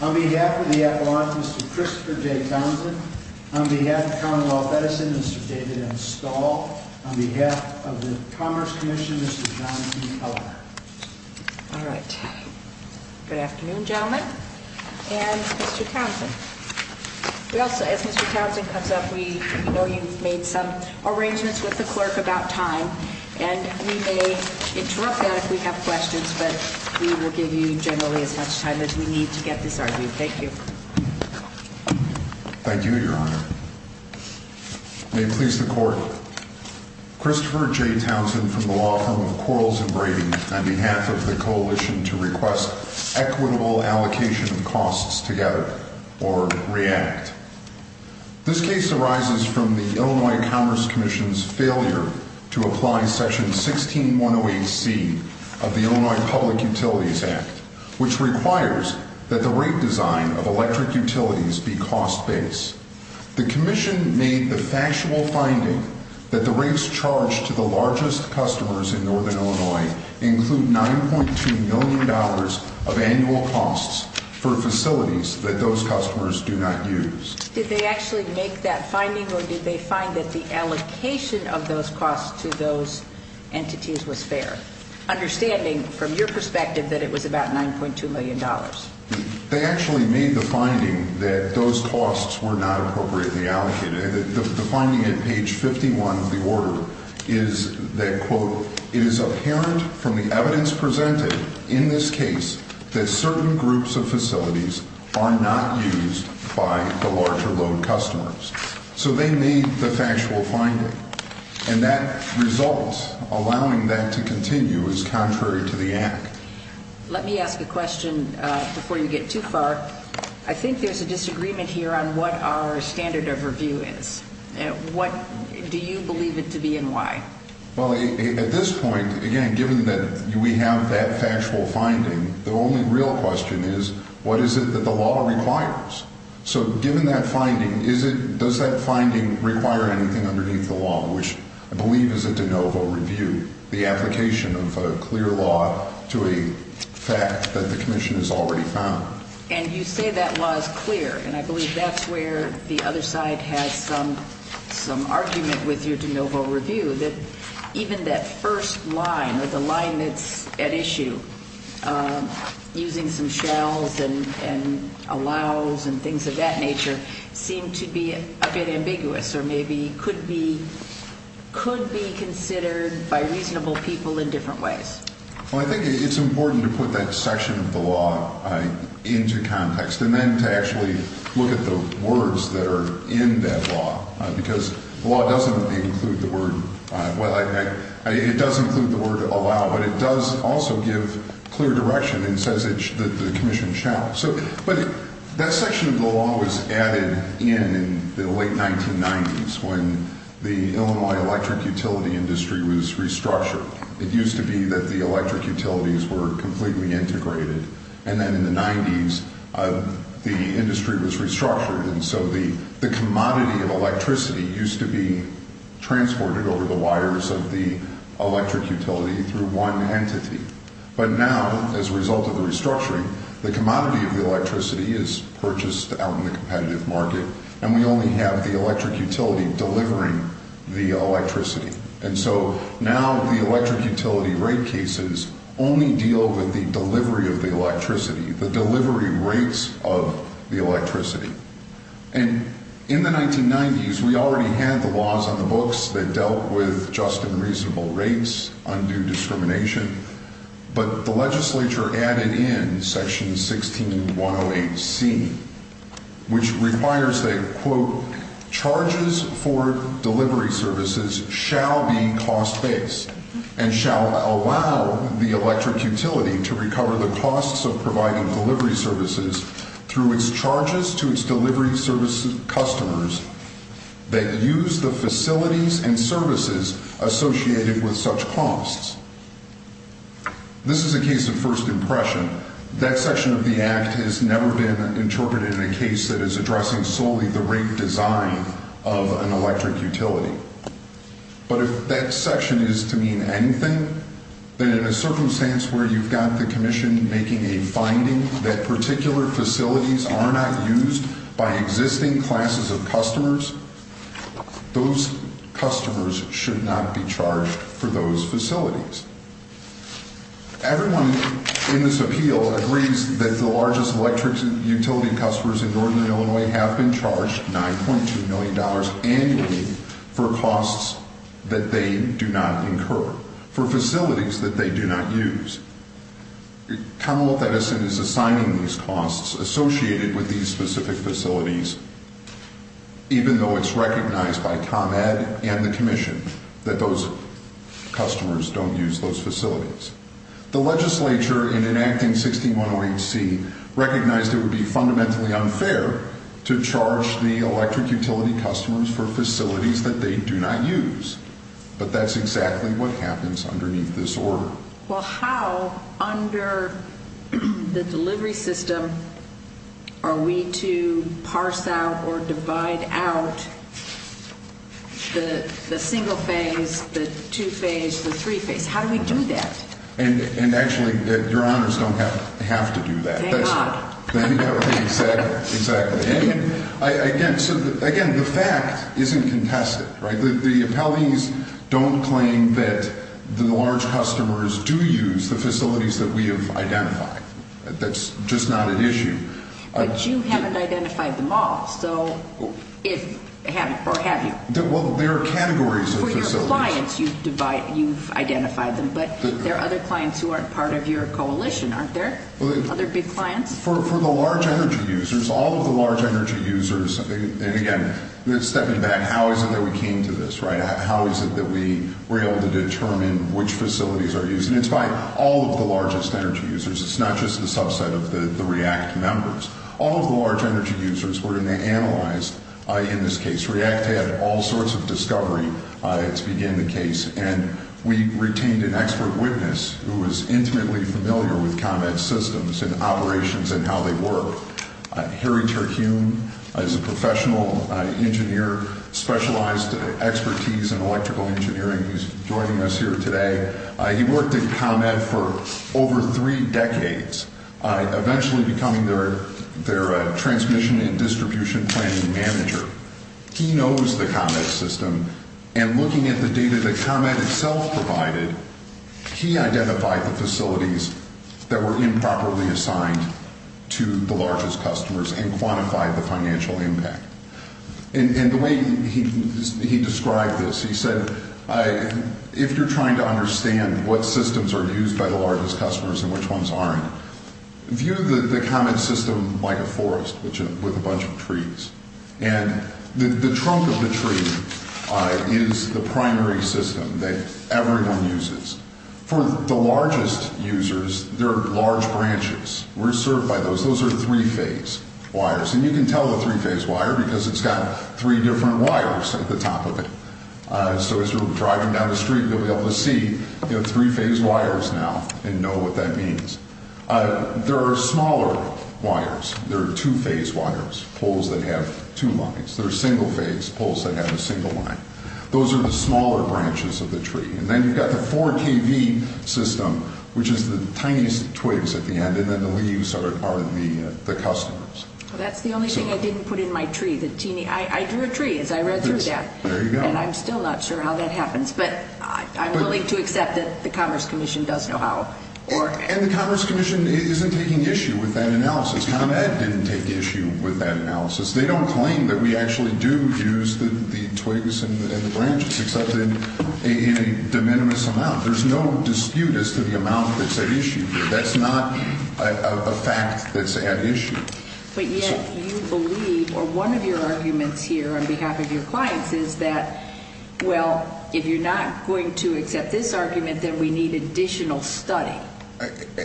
On behalf of the Appalachians, Mr. Christopher J. Townsend. On behalf of the Commonwealth of Edison, Mr. David M. Stahl. On behalf of the Commerce Commission, Mr. John P. Keller. All right. Good afternoon, gentlemen, and Mr. Townsend. We also, as Mr. Townsend comes up, we know you've made some arrangements with the clerk about time, and we may interrupt that if we have questions, but we will give you generally as much time as we need to get this argued. Thank you. Thank you, Your Honor. May it please the court, Christopher J. Townsend from the law firm of Quarles & Brady on behalf of the Coalition to Request Equitable Allocation of Costs Together, or REACT. This case arises from the Illinois Commerce Commission's failure to apply Section 16108C of the Illinois Public Utilities Act, which requires that the rate design of electric utilities be cost-based. The Commission made the factual finding that the rates charged to the largest customers in northern Illinois include $9.2 million of annual costs for facilities that those customers do not use. Did they actually make that finding, or did they find that the allocation of those costs to those entities was fair, understanding, from your perspective, that it was about $9.2 million? They actually made the finding that those costs were not appropriately allocated. The finding at page 51 of the order is that, quote, it is apparent from the evidence presented in this case that certain groups of facilities are not used by the larger load customers. So they made the factual finding, and that result, allowing that to continue, is contrary to the Act. Let me ask a question before you get too far. I think there's a disagreement here on what our standard of review is. What do you believe it to be and why? Well, at this point, again, given that we have that factual finding, the only real question is, what is it that the law requires? So given that finding, does that finding require anything underneath the law, which I believe is a de novo review, the application of a clear law to a fact that the Commission has already found? And you say that law is clear, and I believe that's where the other side has some argument with your de novo review, that even that first line, or the line that's at issue, using some shalls and allows and things of that nature, seem to be a bit ambiguous or maybe could be considered by reasonable people in different ways. Well, I think it's important to put that section of the law into context, and then to actually look at the words that are in that law, because the law doesn't include the word, well, it does include the word allow, but it does also give clear direction and says that the Commission shall. But that section of the law was added in the late 1990s, when the Illinois electric utility industry was restructured. It used to be that the electric utilities were completely integrated, and then in the 90s, the industry was restructured, and so the commodity of electricity used to be transported over the wires of the electric utility through one entity. But now, as a result of the restructuring, the commodity of the electricity is purchased out in the competitive market, and we only have the electric utility delivering the electricity. And so now the electric utility rate cases only deal with the delivery of the electricity, the delivery rates of the electricity. And in the 1990s, we already had the laws on the electricity, but the legislature added in Section 16108C, which requires that, quote, charges for delivery services shall be cost-based and shall allow the electric utility to recover the costs of providing delivery services through its charges to its delivery service customers that use the facilities and services associated with such costs. This is a case of first impression. That section of the Act has never been interpreted in a case that is addressing solely the rate design of an electric utility. But if that section is to mean anything, then in a circumstance where you've got the Commission making a finding that particular facilities are not used by existing classes of customers, those customers should not be charged for those facilities. Everyone in this appeal agrees that the largest electric utility customers in northern Illinois have been charged $9.2 million annually for costs that they do not incur, for facilities that they do not use. Commonwealth Edison is assigning these costs associated with these specific facilities, even though it's recognized by ComEd and the Commission that those customers don't use those facilities. The legislature, in enacting 6108C, recognized it would be fundamentally unfair to charge the electric utility customers for facilities that they do not use. But that's exactly what happens underneath this order. Well, how under the delivery system are we to parse out or divide out the single phase, the two phase, the three phase? How do we do that? And actually, Your Honors, don't have to do that. Thank God. Exactly, exactly. Again, the fact isn't contested. The appellees don't claim that the large customers do use the facilities that we have identified. That's just not an issue. But you haven't identified them all, or have you? Well, there are categories of facilities. For your clients, you've identified them, but there are other clients who aren't part of your coalition, aren't there? Other big clients? For the large energy users, all of the large energy users, and again, stepping back, how is it that we came to this? How is it that we were able to determine which facilities are used? And it's by all of the largest energy users. It's not just the subset of the REACT members. All of the large energy users were analyzed in this case. REACT had all sorts of discovery to begin the case, and we retained an expert witness who was intimately familiar with combat systems and operations and how they work. Harry Terhune is a professional engineer, specialized expertise in electrical engineering, who's joining us here today. He worked at Comet for over three decades, eventually becoming their transmission and distribution planning manager. He knows the Comet system, and looking at the data that Comet itself provided, he identified the facilities that were improperly used by the largest customers and quantified the financial impact. And the way he described this, he said, if you're trying to understand what systems are used by the largest customers and which ones aren't, view the Comet system like a forest with a bunch of trees. And the trunk of the tree is the primary system that everyone uses. For the largest users, there are three-phase wires. And you can tell the three-phase wire because it's got three different wires at the top of it. So as you're driving down the street, you'll be able to see the three-phase wires now and know what that means. There are smaller wires. There are two-phase wires, poles that have two lines. There are single-phase poles that have a single line. Those are the smaller branches of the tree. And then you've got the 4KV system, which is the tiniest twigs at the end, and then the leaves are the customers. Well, that's the only thing I didn't put in my tree, the teeny. I drew a tree as I read through that. There you go. And I'm still not sure how that happens, but I'm willing to accept that the Commerce Commission does know how. And the Commerce Commission isn't taking issue with that analysis. ComEd didn't take issue with that analysis. They don't claim that we actually do use the twigs and the branches, except in a de minimis amount. There's no dispute as to the amount that's at issue here. That's not a fact that's at issue. But yet you believe, or one of your arguments here on behalf of your clients is that, well, if you're not going to accept this argument, then we need additional study.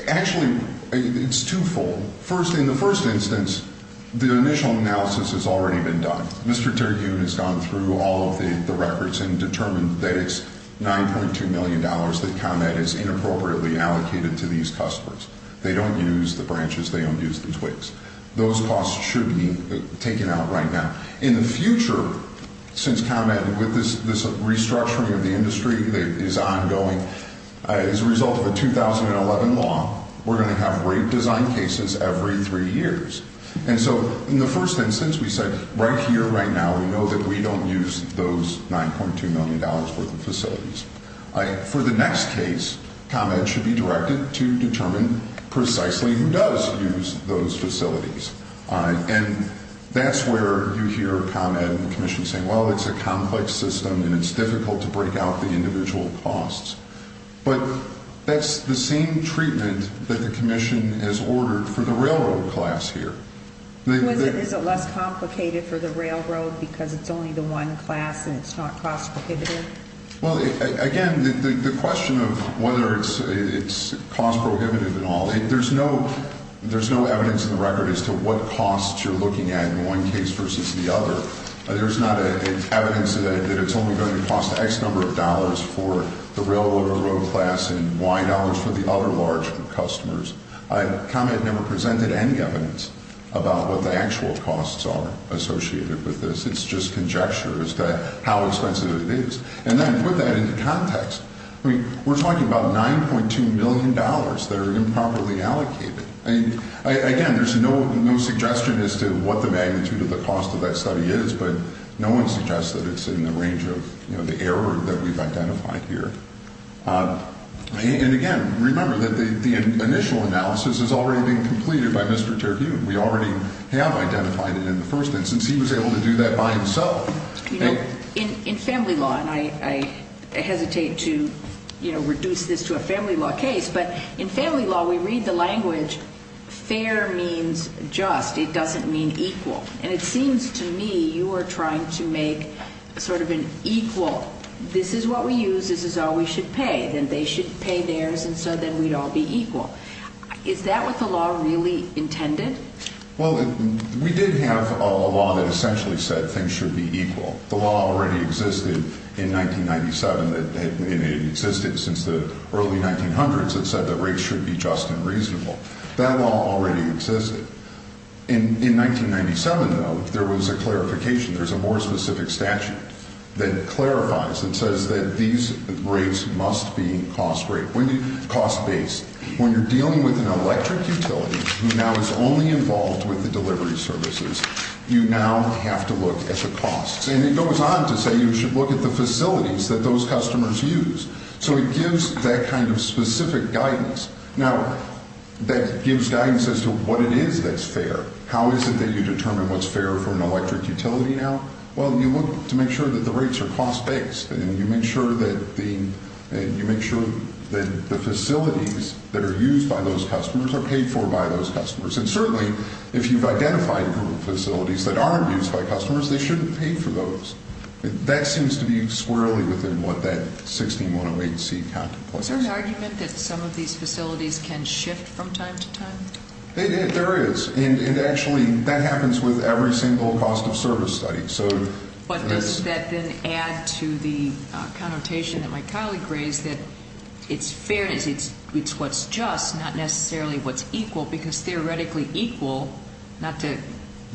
Actually, it's twofold. First, in the first instance, the initial analysis has already been done. Mr. Terhune has gone through all of the records and determined that it's $9.2 million that ComEd has inappropriately allocated to these customers. They don't use the branches. They don't use the twigs. Those costs should be taken out right now. In the future, since ComEd, with this restructuring of the industry that is ongoing, as a result of a 2011 law, we're going to have rape design cases every three years. And so in the first instance, we said, right here, right now, we know that we don't use those $9.2 million worth of facilities. For the next case, ComEd should be directed to determine precisely who does use those facilities. And that's where you hear ComEd and the Commission saying, well, it's a complex system and it's difficult to break out the individual costs. But that's the same treatment that the Commission has ordered for the railroad class here. Is it less complicated for the railroad because it's only the one class and it's not cost prohibitive? Well, again, the question of whether it's cost prohibitive and all, there's no evidence in the record as to what costs you're looking at in one case versus the other. There's not evidence that it's only going to cost X number of dollars for the railroad or road class and Y dollars for the other large customers. ComEd never presented any evidence about what the actual costs are associated with this. It's just conjecture as to how expensive it is. And then put that into context. I mean, we're talking about $9.2 million that are improperly allocated. Again, there's no suggestion as to what the magnitude of the cost of that study is, but no one suggests that it's in the range of, you know, the error that we've identified here. And again, remember that the initial analysis is already being completed by Mr. Terhune. We already have identified it in the first instance. He was able to do that by himself. You know, in family law, and I hesitate to, you know, reduce this to a family law case, but in family law we read the language fair means just. It doesn't mean equal. And it seems to me you are trying to make sort of an equal. This is what we use. This is all we should pay. Then they should pay theirs, and so then we'd all be equal. Is that what the law really intended? Well, we did have a law that essentially said things should be equal. The law already existed in 1997. It existed since the early 1900s. It said that rates should be just and reasonable. That law already existed. In 1997, though, there was a clarification. There's a more specific statute that clarifies and says that these rates must be cost-based. When you're dealing with an electric utility who now is only involved with the delivery services, you now have to look at the costs. And it goes on to say you should look at the facilities that those customers use. So it gives that kind of specific guidance. Now, that gives guidance as to what it is that's fair. How is it that you determine what's fair for an electric utility now? Well, you look to make sure that the rates are cost-based, and you make sure that the facilities that are used by those customers are paid for by those customers. And certainly, if you've identified a group of facilities that aren't used by customers, they shouldn't pay for those. That seems to be squarely within what that 16108C contemplates. Is there an argument that some of these facilities can shift from time to time? There is. And actually, that happens with every single cost-of-service study. But does that then add to the connotation that my colleague raised that it's fairness, it's what's just, not necessarily what's equal? Because theoretically equal, not to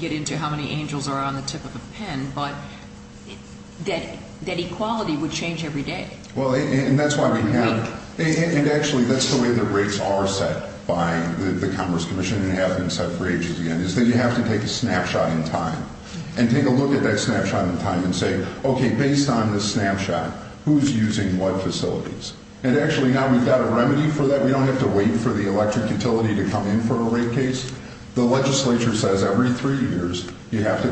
get into how many angels are on the tip of a pen, but that equality would change every day. Well, and that's why we have... And actually, that's the way the rates are set by the Commerce Commission and have been set for ages, again, is that you have to take a snapshot in time and take a look at that snapshot in time and say, okay, based on this snapshot, who's using what facilities? And actually, now we've got a remedy for that. We don't have to wait for you have to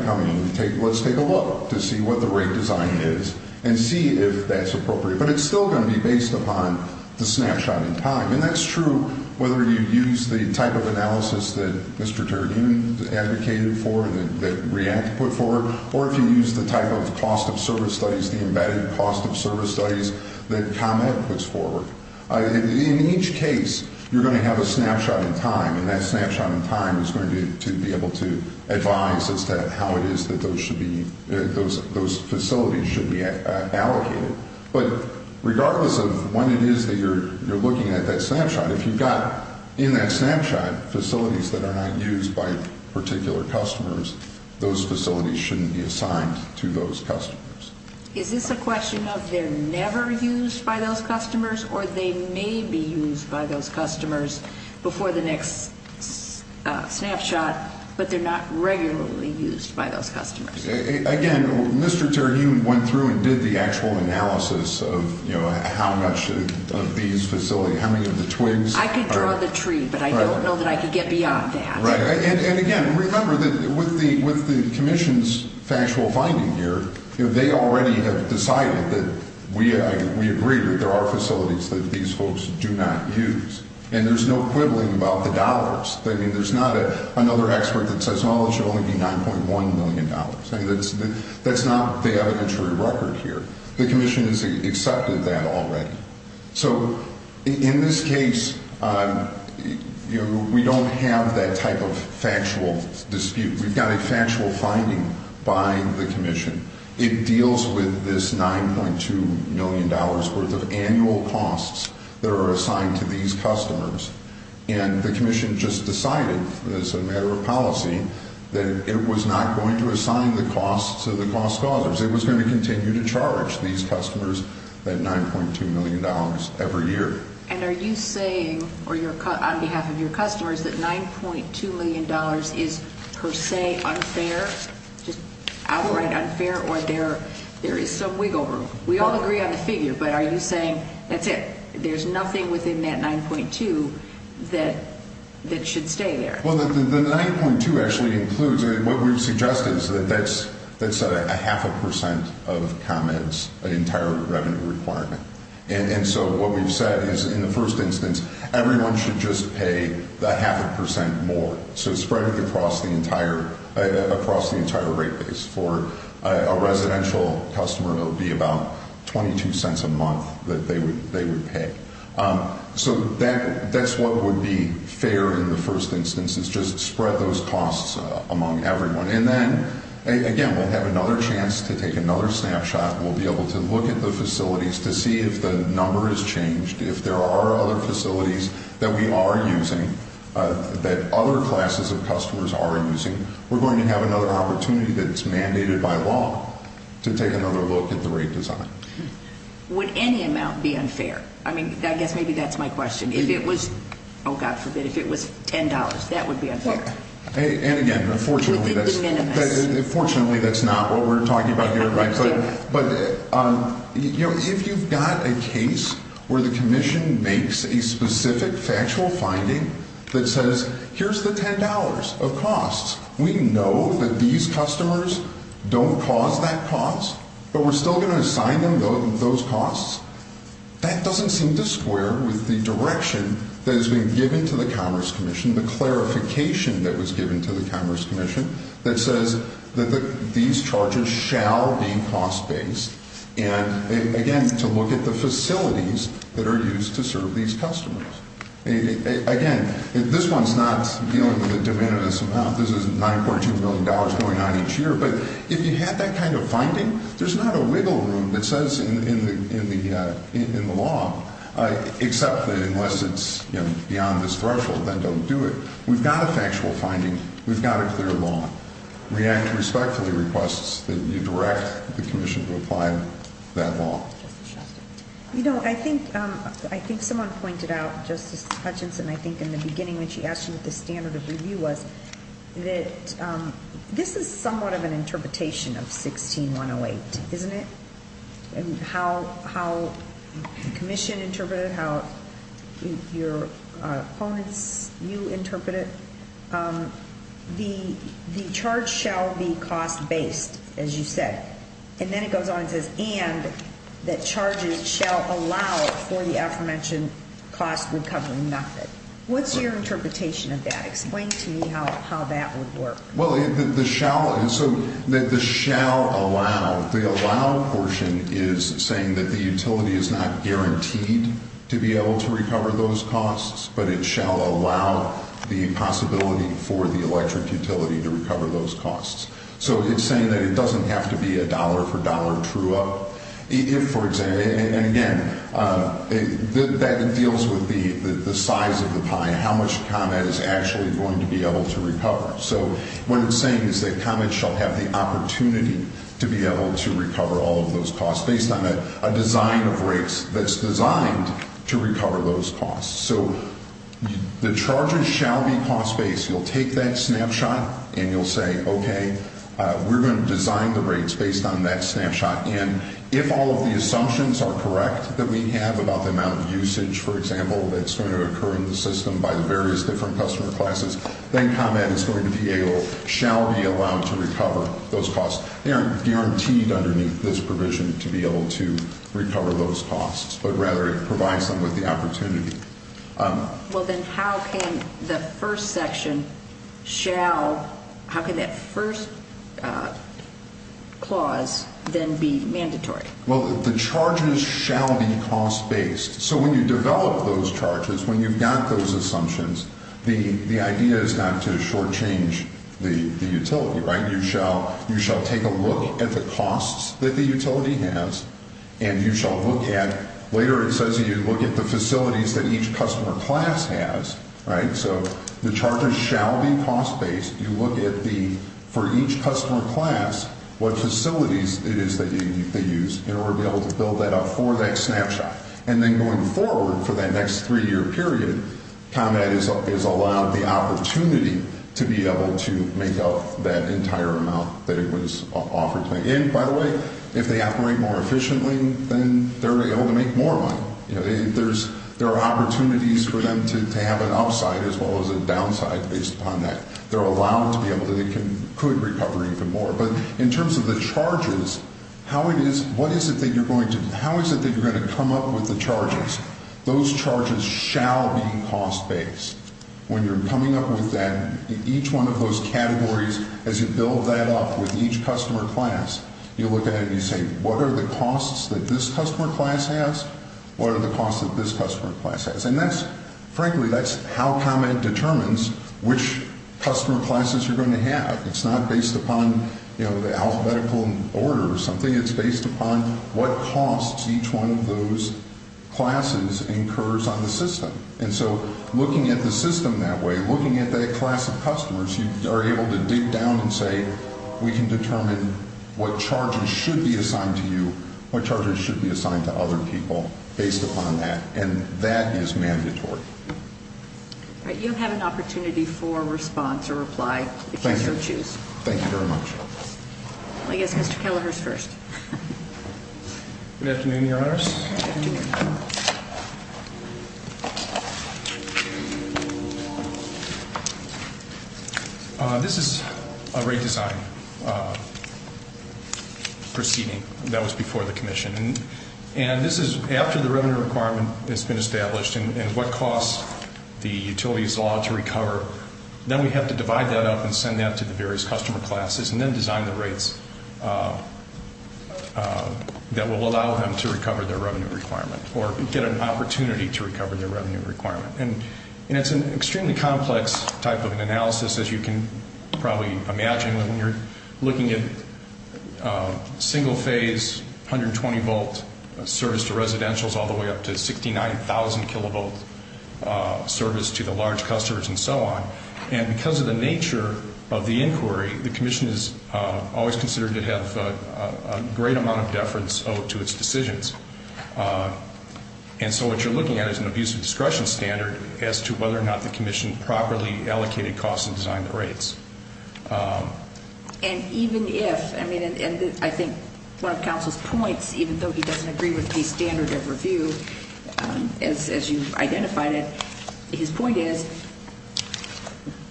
come in and say, let's take a look to see what the rate design is and see if that's appropriate. But it's still going to be based upon the snapshot in time. And that's true whether you use the type of analysis that Mr. Turgeon advocated for, that REACT put forward, or if you use the type of cost-of-service studies, the embedded cost-of-service studies that COMET puts forward. In each case, you're going to have a snapshot in time, and that snapshot in time is going to be able to advise as to how it is that those should be... Those facilities should be allocated. But regardless of when it is that you're looking at that snapshot, if you've got in that snapshot facilities that are not used by particular customers, those facilities shouldn't be assigned to those customers. Is this a question of they're never used by those customers or they may be used by those customers in that snapshot, but they're not regularly used by those customers? Again, Mr. Turgeon went through and did the actual analysis of how much of these facilities... How many of the twigs... I could draw the tree, but I don't know that I could get beyond that. Right. And again, remember that with the Commission's factual finding here, they already have decided that we agree that there are facilities that these folks do not use. And there's no dollars. I mean, there's not another expert that says, oh, it should only be $9.1 million. That's not the evidentiary record here. The Commission has accepted that already. So in this case, we don't have that type of factual dispute. We've got a factual finding by the Commission. It deals with this $9.2 million worth of annual costs that are assigned to these customers. And the Commission just decided, as a matter of policy, that it was not going to assign the costs to the cost-causers. It was going to continue to charge these customers that $9.2 million every year. And are you saying, on behalf of your customers, that $9.2 million is per se unfair? I will write unfair or there is some wiggle room. We all agree on the figure, but are you saying that $9.2 million that should stay there? Well, the $9.2 million actually includes, what we've suggested, is that that's a half a percent of ComEd's entire revenue requirement. And so what we've said is, in the first instance, everyone should just pay the half a percent more. So spread it across the entire rate base. For a residential customer, it would be about $0.22 a month that they would pay. So that's what would be fair in the first instance, is just spread those costs among everyone. And then, again, we'll have another chance to take another snapshot. We'll be able to look at the facilities to see if the number has changed. If there are other facilities that we are using, that other classes of customers are using, we're going to have another opportunity that's mandated by law to take another look at the rate design. Would any amount be unfair? I mean, I guess maybe that's my question. If it was, oh God forbid, if it was $10, that would be unfair. And again, unfortunately, that's not what we're talking about here. But if you've got a case where the Commission makes a specific factual finding that says, here's the $10 of costs, we know that these customers don't cause that cost, but we're still going to assign them those costs, that doesn't seem to square with the direction that has been given to the Commerce Commission, the clarification that was given to the Commerce Commission that says that these charges shall be cost-based. And again, to look at the facilities that are used to serve these customers. Again, this one's not dealing with a diminutive amount. This is $9.2 million going on each year. But if you have that kind of finding, there's not a wiggle room that says in the law, except that unless it's beyond this threshold, then don't do it. We've got a factual finding. We've got a clear law. REACT respectfully requests that you direct the Commission to apply that law. You know, I think someone pointed out, Justice Hutchinson, I think in the beginning when she asked you what the standard of review was, that this is somewhat of an interpretation of 16-108, isn't it? And how the Commission interpreted it, how your opponents, you interpret it. The charge shall be cost-based, as you said. And then it goes on and says, and the charges shall allow for the aforementioned cost recovery method. What's your interpretation of that? Explain to me how that would work. Well, the shall, so the shall allow, the allow portion is saying that the utility is not guaranteed to be able to recover those costs, but it shall allow the possibility for the electric utility to recover those costs. So it's saying that it doesn't have to be a dollar for dollar true up. If, for example, and again, that deals with the size of the pie, how much ComEd is actually going to be able to recover. So what it's saying is that ComEd shall have the opportunity to be able to recover all of those costs based on a design of rates that's designed to recover those costs. So the charges shall be cost-based. You'll take that snapshot and you'll say, okay, we're going to design the rates based on that snapshot. And if all of the assumptions are correct that we have about the amount of usage, for example, that's going to occur in the system by the various different customer classes, then ComEd is going to be able, shall be allowed to recover those costs. They aren't guaranteed underneath this provision to be able to recover those costs, but rather it provides them with the opportunity. Well, then how can the first section shall, how can that first clause then be mandatory? Well, the charges shall be cost-based. So when you develop those charges, when you've got those assumptions, the idea is not to shortchange the utility, right? You shall take a look at the costs that the utility has, and you shall look at, later it says to you, look at the facilities that each customer class has, right? So the charges shall be cost-based. You look at the, for each customer class, what facilities it is that they use in order to be able to build that up for that snapshot. And then going forward for that next three-year period, ComEd is allowed the opportunity to be able to make up that entire amount that it was offered to make. And by the way, if they operate more well, you know, there are opportunities for them to have an upside as well as a downside based upon that. They're allowed to be able to, they could recover even more. But in terms of the charges, how it is, what is it that you're going to, how is it that you're going to come up with the charges? Those charges shall be cost-based. When you're coming up with that, each one of those categories, as you build that up with each customer class, you look at it and you say, what are the costs that this customer class has? What are the costs that this customer class has? And that's, frankly, that's how ComEd determines which customer classes you're going to have. It's not based upon, you know, the alphabetical order or something. It's based upon what costs each one of those classes incurs on the system. And so looking at the system that way, looking at that class of customers, you are able to sit down and say, we can determine what charges should be assigned to you, what charges should be assigned to other people based upon that. And that is mandatory. All right. You'll have an opportunity for response or reply if you so choose. Thank you. Thank you very much. I guess Mr. Kelleher's first. Good afternoon, Your Honors. Good afternoon. This is a rate design proceeding that was before the commission. And this is after the revenue requirement has been established and what costs the utility is allowed to recover. Then we have to divide that up and send that to the various customer classes and then design the rates that will allow them to recover their revenue requirement or get an opportunity to recover their revenue requirement. And it's an extremely complex type of an analysis, as you can probably imagine when you're looking at single phase, 120 volt service to residentials all the way up to 69,000 kilovolt service to the large customers and so on. And because of the nature of the inquiry, the commission is always considered to have a great amount of deference owed to its decisions. And so what you're looking at is an abuse of discretion standard as to whether or not the commission properly allocated costs and designed the rates. And even if, I mean, and I think one of counsel's points, even though he doesn't agree with his point is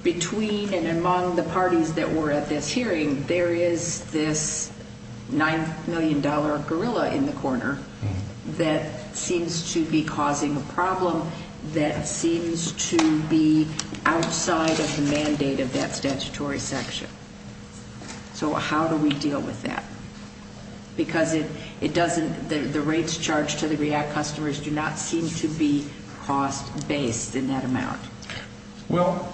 between and among the parties that were at this hearing, there is this $9 million gorilla in the corner that seems to be causing a problem that seems to be outside of the mandate of that statutory section. So how do we deal with that? Because it doesn't, the rates charged to the REACT customers do not seem to be cost-based in that amount. Well,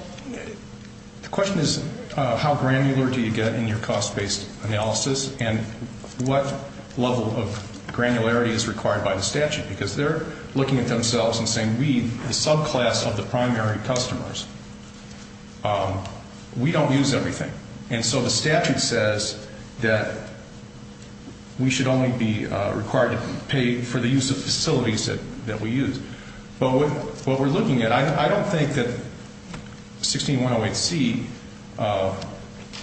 the question is how granular do you get in your cost-based analysis and what level of granularity is required by the statute? Because they're looking at themselves and saying we, the subclass of the primary customers, we don't use everything. And so the statute says that we should only be required to pay for the use of facilities that we use. But what we're looking at, I don't think that 16108C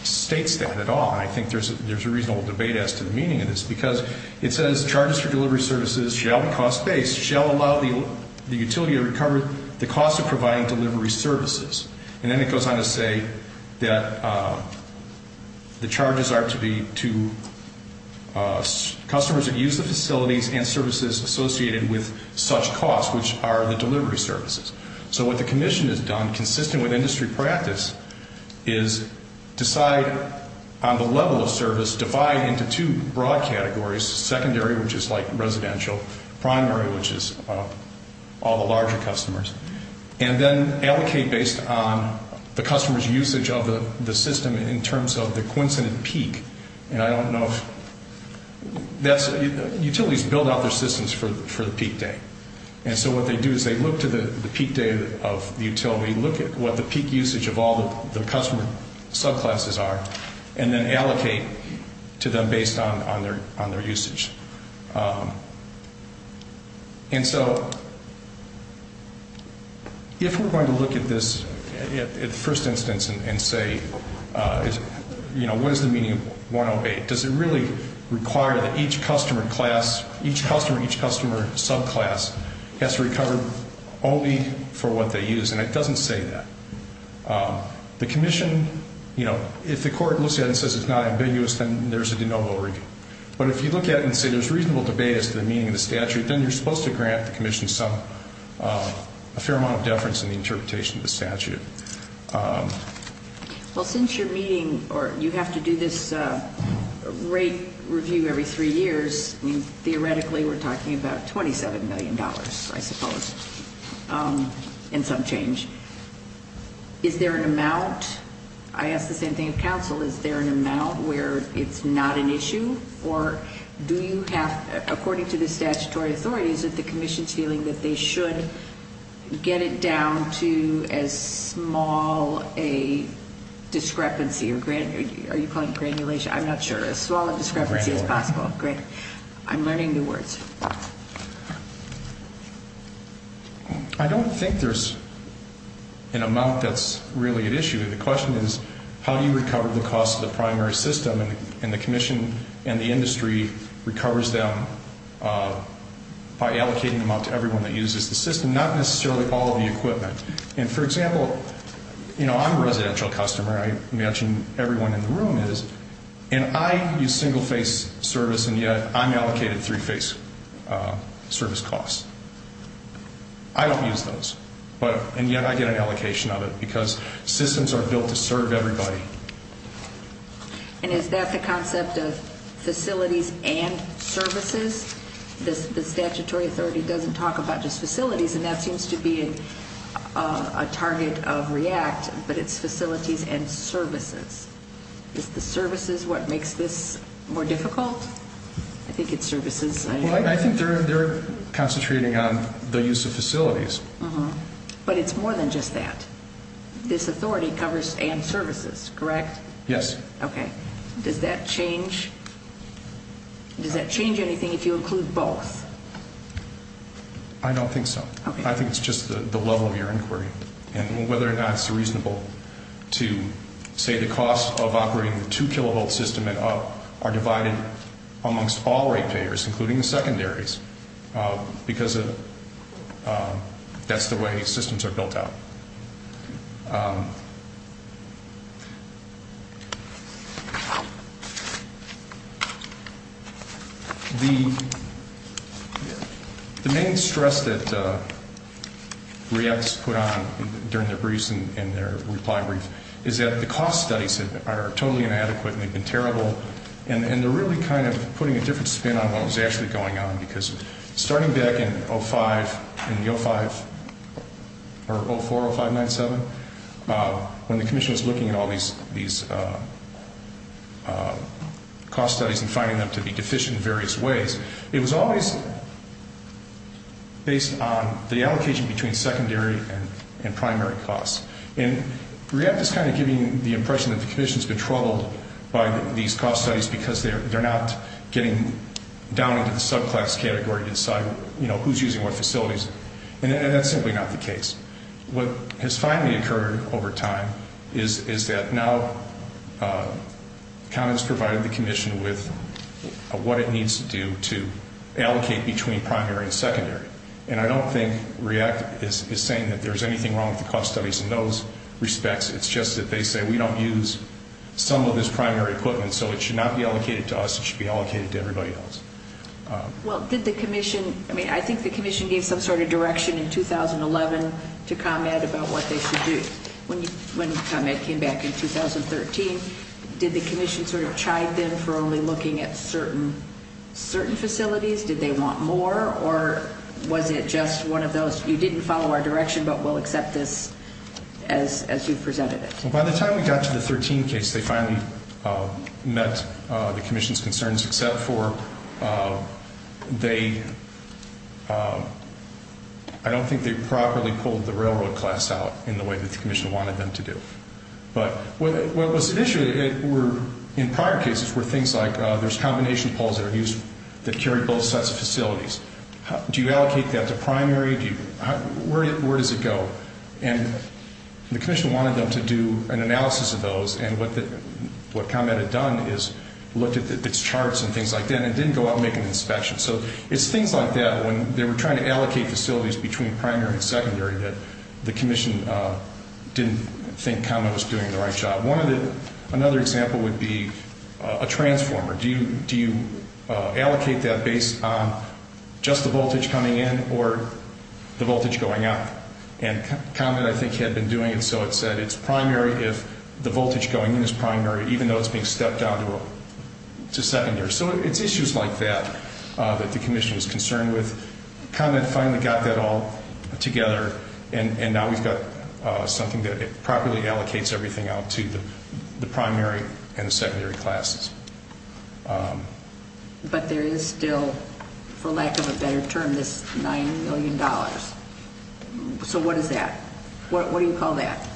states that at all. I think there's a reasonable debate as to the meaning of this because it says charges for delivery services shall be cost-based, shall allow the utility to recover the cost of providing delivery services. And then it goes on to say that the charges are to customers that use the facilities and services associated with such costs, which are the delivery services. So what the commission has done, consistent with industry practice, is decide on the level of service, divide into two broad categories, secondary, which is all the larger customers, and then allocate based on the customer's usage of the system in terms of the coincident peak. And I don't know if that's, utilities build out their systems for the peak day. And so what they do is they look to the peak day of the utility, look at what the peak usage of all the customer subclasses are, and then allocate to them based on their usage. And so if we're going to look at this at first instance and say, you know, what is the meaning of 108? Does it really require that each customer class, each customer, each customer subclass has to recover only for what they use? And it doesn't say that. The commission, you know, if the court looks at it and says it's not But if you look at it and say there's reasonable debate as to the meaning of the statute, then you're supposed to grant the commission some, a fair amount of deference in the interpretation of the statute. Well, since you're meeting, or you have to do this rate review every three years, theoretically we're talking about $27 million, I suppose, in some change. Is there an amount, I ask the same thing of counsel, is there an amount where it's not an issue? Or do you have, according to the statutory authorities, that the commission's feeling that they should get it down to as small a discrepancy, or are you calling it granulation? I'm not sure. As small a discrepancy as possible. I'm learning new words. I don't think there's an amount that's really at issue. The question is, how do you recover the cost of the primary system? And the commission and the industry recovers them by allocating them out to everyone that uses the system, not necessarily all of the equipment. And, for example, you know, I'm a residential customer. I imagine everyone in the room is. And I use single-face service, and yet I'm allocated three-face. Service costs. I don't use those, and yet I get an allocation of it, because systems are built to serve everybody. And is that the concept of facilities and services? The statutory authority doesn't talk about just facilities, and that seems to be a target of REACT, but it's facilities and services. Is the services what makes this more difficult? I think it's services. Well, I think they're concentrating on the use of facilities. But it's more than just that. This authority covers and services, correct? Yes. Okay. Does that change anything if you include both? I don't think so. I think it's just the level of your inquiry and whether or not it's reasonable to say the costs of operating a two-kilovolt system and up are divided amongst all rate payers, including the secondaries, because that's the way systems are built out. The main stress that REACT has put on during their briefs and their reply brief is that the cost studies are totally inadequate and they've been terrible, and they're really kind of putting a different spin on what was actually going on, because starting back in 05, in the 05, or 04, 05-97, when the commission was looking at all these cost studies and finding them to be deficient in various ways, it was always based on the allocation between secondary and primary costs. And REACT is kind of giving the impression that the subclass category to decide who's using what facilities, and that's simply not the case. What has finally occurred over time is that now the county has provided the commission with what it needs to do to allocate between primary and secondary. And I don't think REACT is saying that there's anything wrong with the cost studies in those respects. It's just that they say we don't use some of this primary equipment, so it should not be allocated to us, it should be allocated to everybody else. Well, did the commission, I mean, I think the commission gave some sort of direction in 2011 to ComEd about what they should do. When ComEd came back in 2013, did the commission sort of chide them for only looking at certain facilities? Did they want more, or was it just one of those, you didn't follow our direction but we'll accept this as you presented it? Well, by the time we got to the 2013 case, they finally met the commission's concerns except for they, I don't think they properly pulled the railroad class out in the way that the commission wanted them to do. But what was initially in prior cases were things like there's combination poles that are used that carry both And the commission wanted them to do an analysis of those, and what ComEd had done is looked at its charts and things like that, and it didn't go out and make an inspection. So it's things like that when they were trying to allocate facilities between primary and secondary that the commission didn't think ComEd was doing the right job. Another example would be a transformer. Do you allocate that based on just the voltage coming in or the voltage going out? And ComEd I think had been doing it, so it said it's primary if the voltage going in is primary, even though it's being stepped down to secondary. So it's issues like that that the commission was concerned with. ComEd finally got that all together, and now we've got something that it properly allocates everything out to the primary and the secondary classes. But there is still, for lack of a better term, this $9 million. So what is that? What do you call that?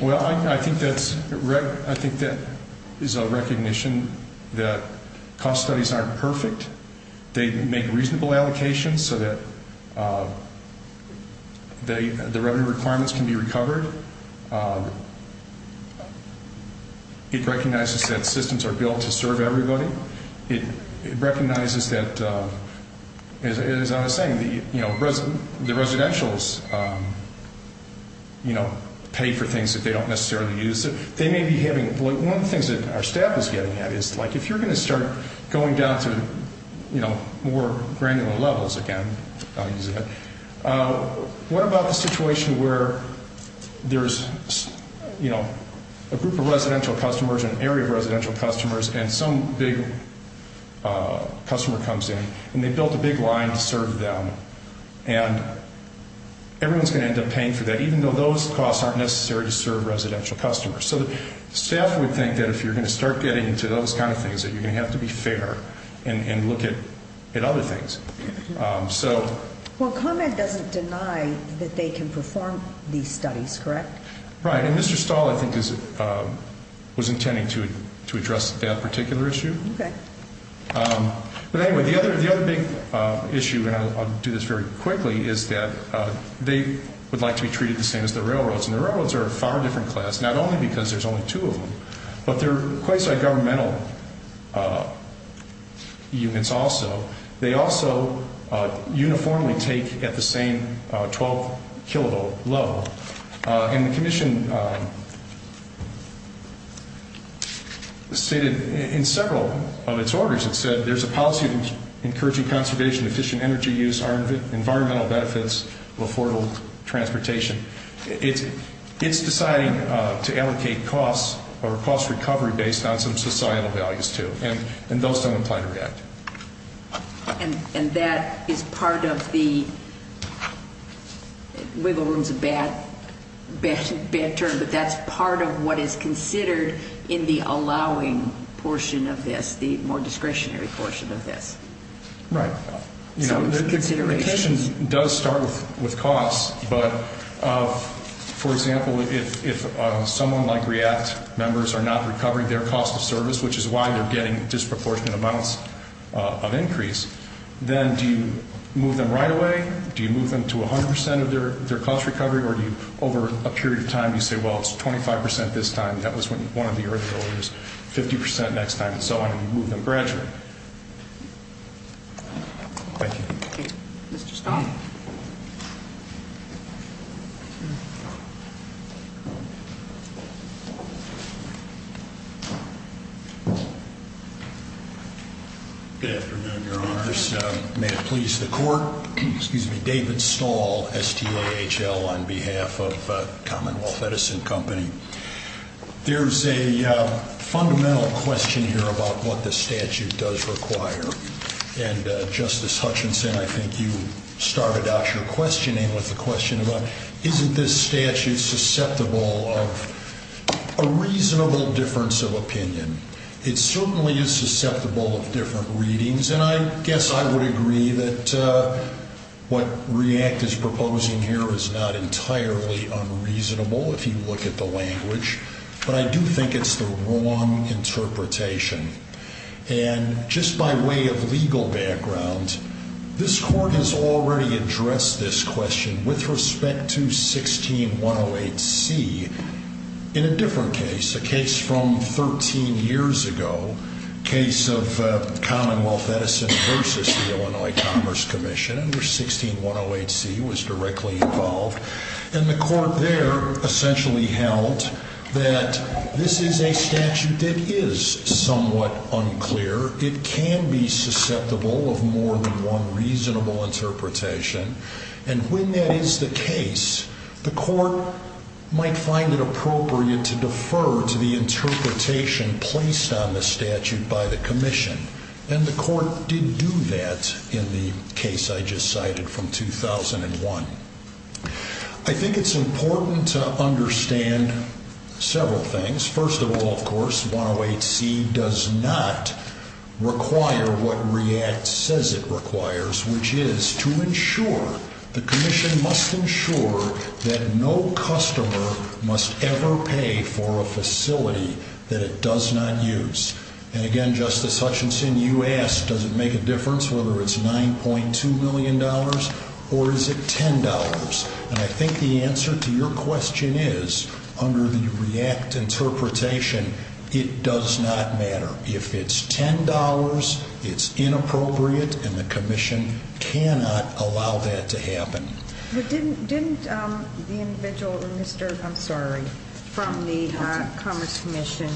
Well, I think that is a recognition that cost studies aren't perfect. They make reasonable allocations so that the revenue requirements can be recovered. It recognizes that systems are built to serve everybody. It recognizes that, as I was saying, the residentials pay for things that they don't necessarily use. One of the things that our staff is getting at is if you're going to start going down to more granular levels, again, I'll use that, what about the situation where there's a group of residential customers, an area of residential customers, and some big customer comes in, and they built a big line to serve them, and everyone's going to end up paying for that, even though those costs aren't necessary to serve residential customers. So the staff would think that if you're going to start getting into those kind of things, that you're going to have to be fair and look at other things. Well, ComEd doesn't deny that they can perform these studies, correct? Right. And Mr. Stahl, I think, was intending to address that particular issue. Okay. But anyway, the other big issue, and I'll do this very quickly, is that they would like to be treated the same as the railroads. And the railroads are a far different class, not only because there's only two of them, but they're quite different. They're also governmental units also. They also uniformly take at the same 12-kilovolt level. And the Commission stated in several of its orders, it said, there's a policy of encouraging conservation, efficient energy use, environmental benefits, affordable transportation. It's deciding to allocate costs or cost recovery based on some societal values, too. And those don't apply to REACT. And that is part of the wiggle room is a bad term, but that's part of what is considered in the allowing portion of this, the more discretionary portion of this. Right. So it's a consideration. The Commission does start with costs, but, for example, if someone like REACT members are not recovering their cost of service, which is why they're getting disproportionate amounts of increase, then do you move them right away? Do you move them to 100 percent of their cost recovery, or do you, over a period of time, you say, well, it's 25 percent this time, that was one of the earlier orders, 50 percent next time, and so on, and you move them gradually? Thank you. Mr. Stahl. Good afternoon, Your Honors. May it please the Court. David Stahl, S-T-A-H-L, on behalf of Commonwealth Medicine Company. There's a fundamental question here about what the statute does require, and, Justice Hutchinson, I think you started out your questioning with the question about isn't this statute susceptible of a reasonable difference of opinion. It certainly is susceptible of different readings, and I guess I would agree that what REACT is proposing here is not entirely unreasonable, if you look at the language, but I do think it's the wrong interpretation, and just by way of legal background, this Court has already addressed this question with respect to 16108C in a different case, a case from 13 years ago, a case of Commonwealth Medicine versus the Illinois Commerce Commission, and 16108C was directly involved, and the Court there essentially held that this is a statute that is somewhat unclear. It can be susceptible of more than one reasonable interpretation, and when that is the case, the Court might find it appropriate to defer to the interpretation placed on the statute by the Commission, and the Court did do that in the case I just cited from 2001. I think it's important to understand several things. First of all, of course, 16108C does not require what REACT says it requires, which is to ensure, the Commission must ensure that no customer must ever pay for a facility that it does not use. And again, Justice Hutchinson, you asked, does it make a difference whether it's $9.2 million or is it $10? And I think the answer to your question is, under the REACT interpretation, it does not matter. If it's $10, it's inappropriate, and the Commission cannot allow that to happen. But didn't the individual, I'm sorry, from the Commerce Commission,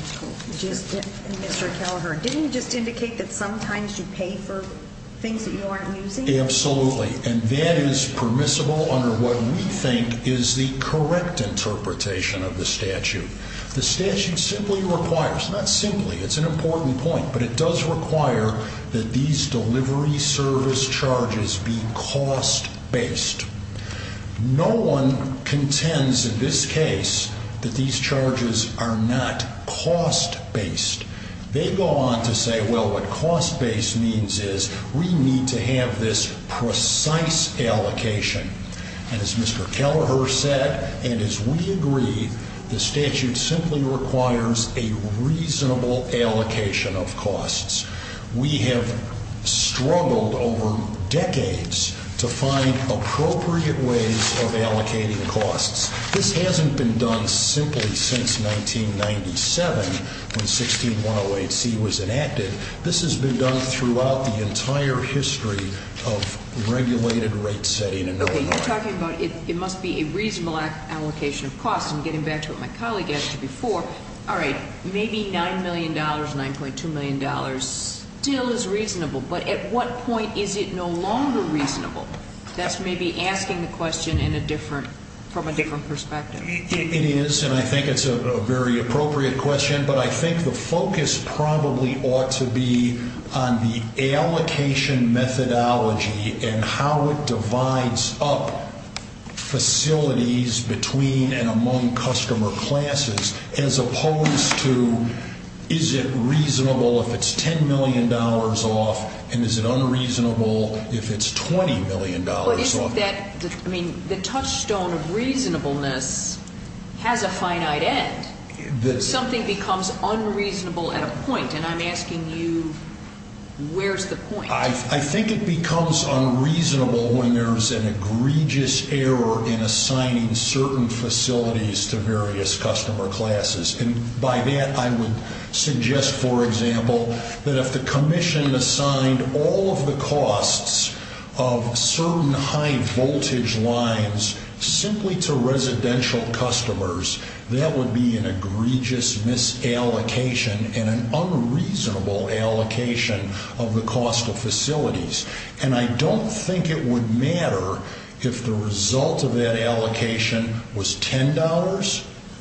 Mr. Kelleher, didn't he just indicate that sometimes you pay for things that you aren't using? Absolutely, and that is permissible under what we think is the correct interpretation of the statute. The statute simply requires, not simply, it's an important point, but it does require that these delivery service charges be cost-based. No one contends in this case that these charges are not cost-based. They go on to say, well, what cost-based means is we need to have this precise allocation. And as Mr. Kelleher said, and as we agree, the statute simply requires a reasonable allocation of costs. We have struggled over decades to find appropriate ways of allocating costs. This hasn't been done simply since 1997, when 16108C was enacted. This has been done throughout the entire history of regulated rate setting. Okay, you're talking about it must be a reasonable allocation of costs, and getting back to what my colleague asked you before, all right, maybe $9 million, $9.2 million still is reasonable, but at what point is it no longer reasonable? That's maybe asking the question from a different perspective. It is, and I think it's a very appropriate question, but I think the focus probably ought to be on the allocation methodology and how it divides up facilities between and among customer classes, as opposed to is it reasonable if it's $10 million off, and is it unreasonable if it's $20 million off? I mean, the touchstone of reasonableness has a finite end. Something becomes unreasonable at a point, and I'm asking you, where's the point? If we were to assign high voltage lines simply to residential customers, that would be an egregious misallocation and an unreasonable allocation of the cost of facilities, and I don't think it would matter if the result of that allocation was $10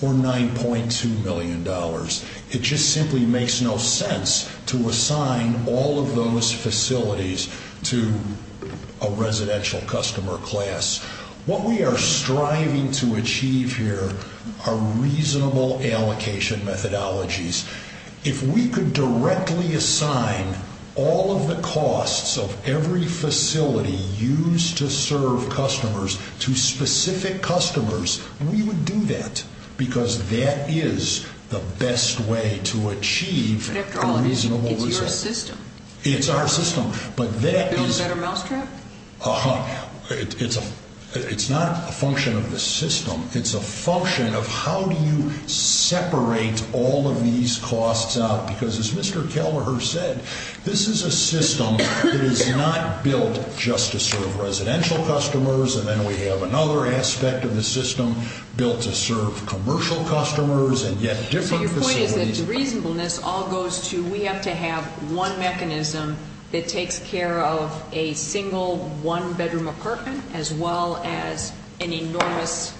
or $9.2 million. It just simply makes no sense to assign all of those facilities to a residential customer class. What we are striving to achieve here are reasonable allocation methodologies. If we could directly assign all of the costs of every facility used to serve customers to specific customers, we would do that, because that is the best way to achieve a reasonable result. It's our system, but it's not a function of the system. It's a function of how do you separate all of these costs out, because as Mr. Kelleher said, this is a system that is not built just to serve residential customers, and then we have another aspect of the system built to serve commercial customers and yet different facilities. The reasonableness all goes to we have to have one mechanism that takes care of a single one-bedroom apartment as well as an enormous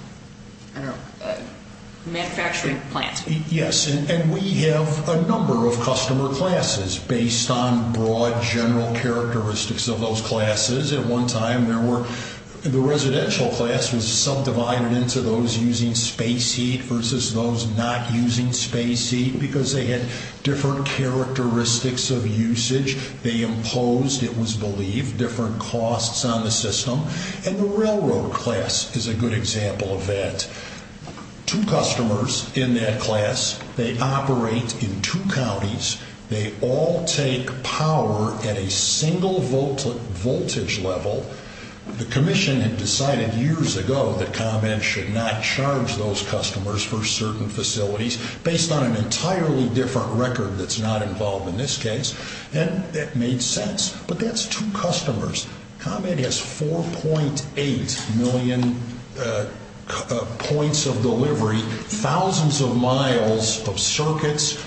manufacturing plant. Yes, and we have a number of customer classes based on broad general characteristics of those classes. At one time, the residential class was subdivided into those using space heat versus those not using space heat because they had different characteristics of usage. They imposed, it was believed, different costs on the system, and the railroad class is a good example of that. Two customers in that class operate in two counties. They all take power at a single voltage level. The commission had decided years ago that ComEd should not charge those customers for certain facilities based on an entirely different record that's not involved in this case, and that made sense, but that's two customers. ComEd has 4.8 million points of delivery, thousands of miles of circuits.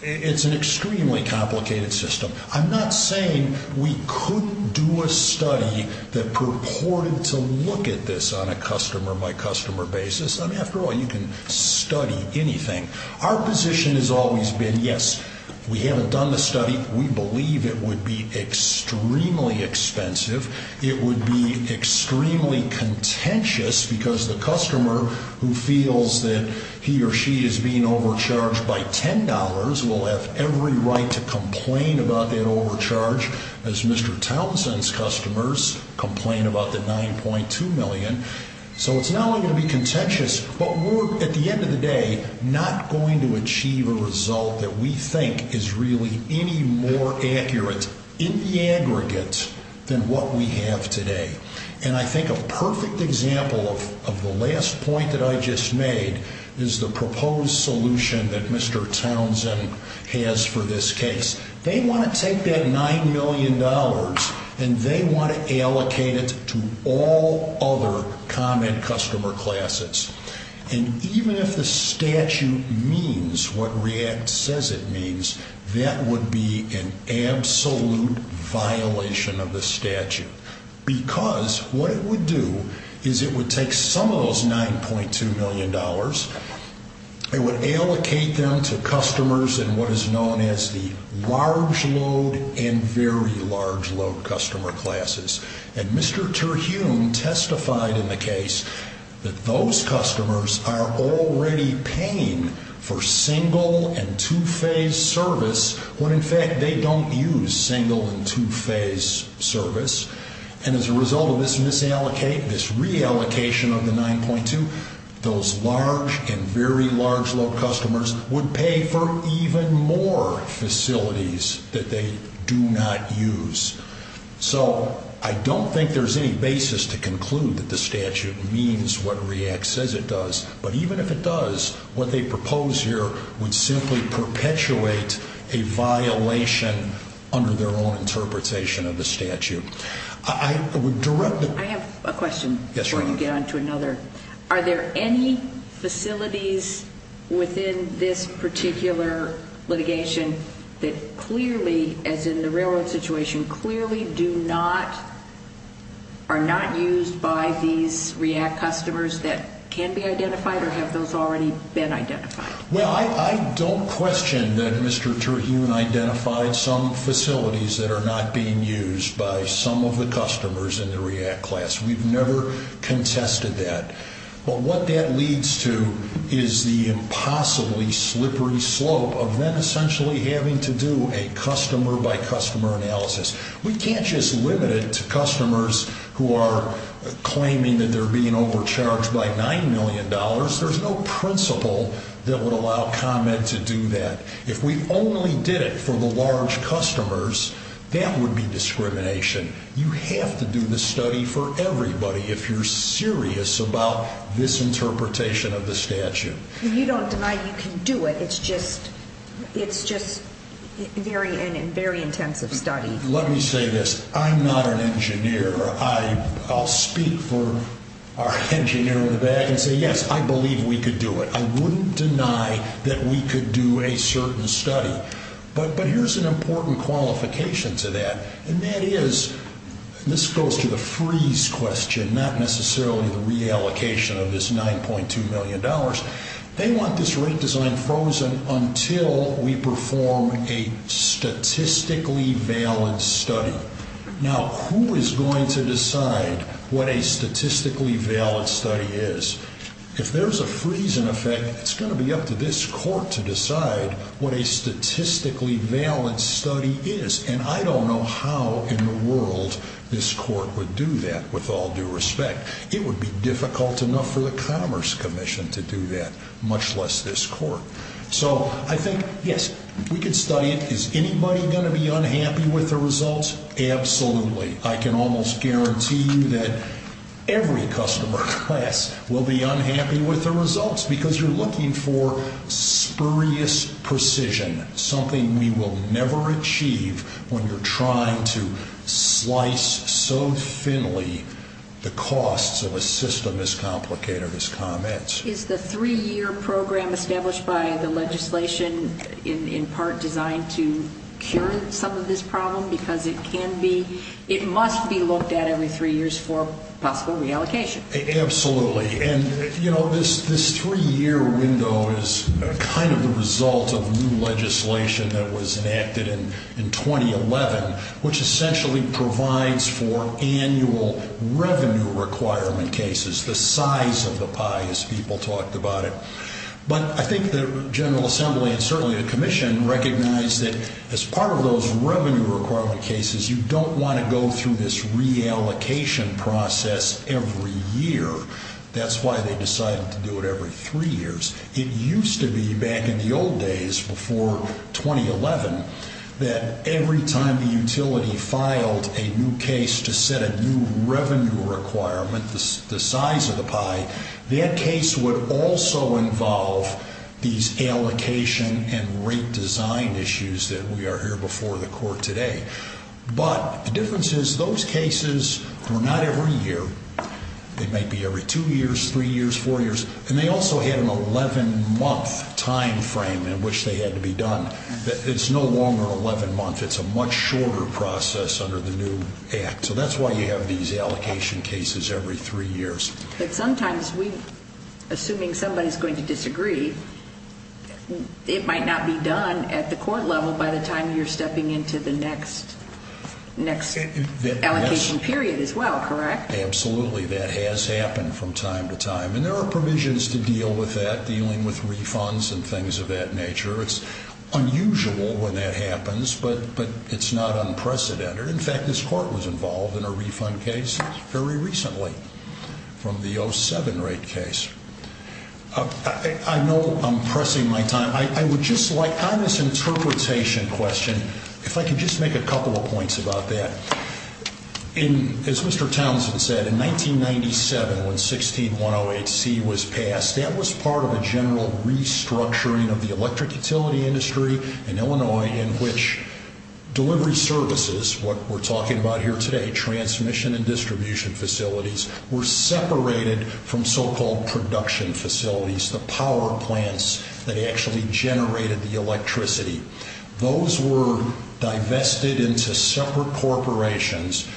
It's an extremely complicated system. I'm not saying we couldn't do a study that purported to look at this on a customer-by-customer basis. After all, you can study anything. Our position has always been, yes, we haven't done the study. We believe it would be extremely expensive. It would be extremely contentious because the customer who feels that he or she is being overcharged by $10 will have every right to complain about that overcharge, as Mr. Townsend's customers complain about the $9.2 million. So it's not only going to be contentious, but we're, at the end of the day, not going to achieve a result that we think is really any more accurate in the aggregate than what we have today. And I think a perfect example of the last point that I just made is the proposed solution that Mr. Townsend has for this case. They want to take that $9 million, and they want to allocate it to all other ComEd customer classes. And even if the statute means what REACT says it means, that would be an absolute violation of the statute because what it would do is it would take some of those $9.2 million, it would allocate them to customers in what is known as the large load and very large load customer classes. And Mr. Terhune testified in the case that those customers are already paying for single and two-phase service when, in fact, they don't use single and two-phase service. And as a result of this reallocation of the $9.2 million, those large and very large load customers would pay for even more facilities that they do not use. So I don't think there's any basis to conclude that the statute means what REACT says it does, but even if it does, what they propose here would simply perpetuate a violation under their own interpretation of the statute. I have a question before you get on to another. Are there any facilities within this particular litigation that clearly, as in the railroad situation, clearly are not used by these REACT customers that can be identified, or have those already been identified? Well, I don't question that Mr. Terhune identified some facilities that are not being used by some of the customers in the REACT class. We've never contested that. But what that leads to is the impossibly slippery slope of them essentially having to do a customer-by-customer analysis. We can't just limit it to customers who are claiming that they're being overcharged by $9 million. There's no principle that would allow ComEd to do that. If we only did it for the large customers, that would be discrimination. You have to do the study for everybody if you're serious about this interpretation of the statute. You don't deny you can do it. It's just a very intensive study. Let me say this. I'm not an engineer. I'll speak for our engineer in the back and say, yes, I believe we could do it. I wouldn't deny that we could do a certain study. But here's an important qualification to that. And that is, this goes to the freeze question, not necessarily the reallocation of this $9.2 million. They want this rate design frozen until we perform a statistically valid study. Now, who is going to decide what a statistically valid study is? If there's a freeze in effect, it's going to be up to this court to decide what a statistically valid study is. And I don't know how in the world this court would do that, with all due respect. It would be difficult enough for the Commerce Commission to do that, much less this court. So I think, yes, we could study it. Is anybody going to be unhappy with the results? Absolutely. I can almost guarantee you that every customer class will be unhappy with the results, because you're looking for spurious precision, something we will never achieve when you're trying to slice so thinly the costs of a system as complicated as comments. Which is the three-year program established by the legislation, in part designed to cure some of this problem? Because it can be, it must be looked at every three years for possible reallocation. Absolutely. And, you know, this three-year window is kind of the result of new legislation that was enacted in 2011, which essentially provides for annual revenue requirement cases, the size of the pie, as people talked about it. But I think the General Assembly, and certainly the Commission, recognize that as part of those revenue requirement cases, you don't want to go through this reallocation process every year. That's why they decided to do it every three years. It used to be, back in the old days, before 2011, that every time the utility filed a new case to set a new revenue requirement, the size of the pie, that case would also involve these allocation and rate design issues that we are here before the court today. But the difference is, those cases were not every year. They might be every two years, three years, four years. And they also had an 11-month time frame in which they had to be done. It's no longer 11 months. It's a much shorter process under the new Act. So that's why you have these allocation cases every three years. But sometimes, assuming somebody is going to disagree, it might not be done at the court level by the time you're stepping into the next allocation period as well, correct? Absolutely. That has happened from time to time. And there are provisions to deal with that, dealing with refunds and things of that nature. It's unusual when that happens, but it's not unprecedented. In fact, this court was involved in a refund case very recently from the 07 rate case. I know I'm pressing my time. I would just like, on this interpretation question, if I could just make a couple of points about that. As Mr. Townsend said, in 1997, when 16108C was passed, that was part of a general restructuring of the electric utility industry in Illinois in which delivery services, what we're talking about here today, transmission and distribution facilities, were separated from so-called production facilities. The power plants that actually generated the electricity. Those were divested into separate corporations.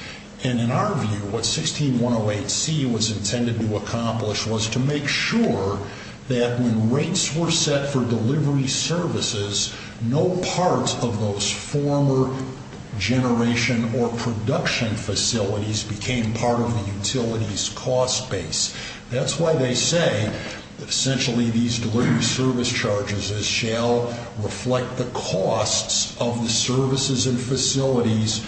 And in our view, what 16108C was intended to accomplish was to make sure that when rates were set for delivery services, no part of those former generation or production facilities became part of the utility's cost base. That's why they say that essentially these delivery service charges shall reflect the costs of the services and facilities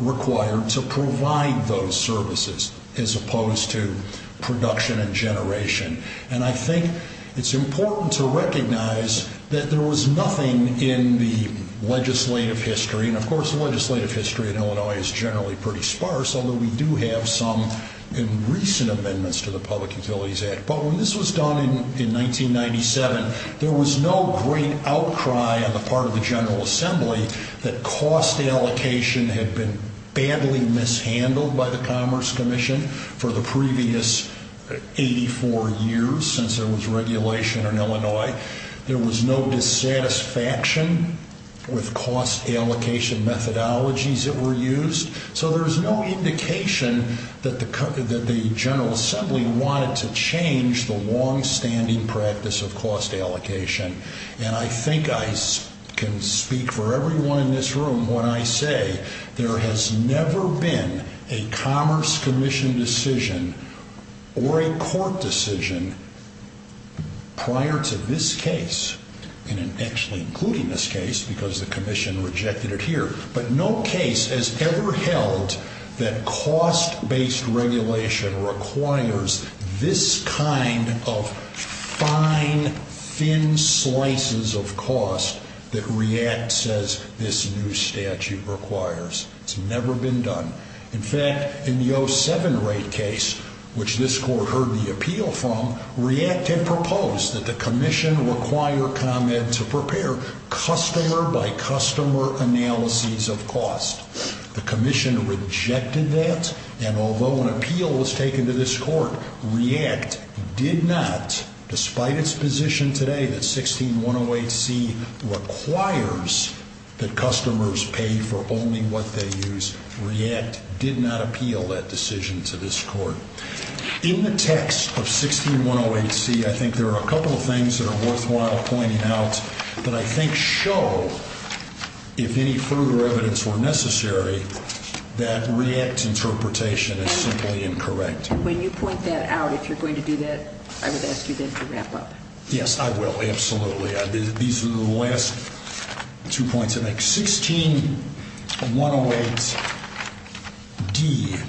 required to provide those services as opposed to production and generation. And I think it's important to recognize that there was nothing in the legislative history, and of course the legislative history in Illinois is generally pretty sparse, although we do have some in recent amendments to the Public Utilities Act. But when this was done in 1997, there was no great outcry on the part of the General Assembly that cost allocation had been badly mishandled by the Commerce Commission for the previous 84 years since there was regulation in Illinois. There was no dissatisfaction with cost allocation methodologies that were used. So there's no indication that the General Assembly wanted to change the longstanding practice of cost allocation. And I think I can speak for everyone in this room when I say there has never been a Commerce Commission decision or a court decision prior to this case. And actually including this case because the Commission rejected it here. But no case has ever held that cost-based regulation requires this kind of fine, thin slices of cost that REACT says this new statute requires. It's never been done. In fact, in the 07 rate case, which this Court heard the appeal from, REACT had proposed that the Commission require ComEd to prepare customer-by-customer analyses of cost. The Commission rejected that, and although an appeal was taken to this Court, REACT did not, despite its position today that 16108C requires that customers pay for only what they use. REACT did not appeal that decision to this Court. In the text of 16108C, I think there are a couple of things that are worthwhile pointing out that I think show, if any further evidence were necessary, that REACT's interpretation is simply incorrect. And when you point that out, if you're going to do that, I would ask you then to wrap up. Yes, I will. Absolutely. These are the last two points I make. In 16108D,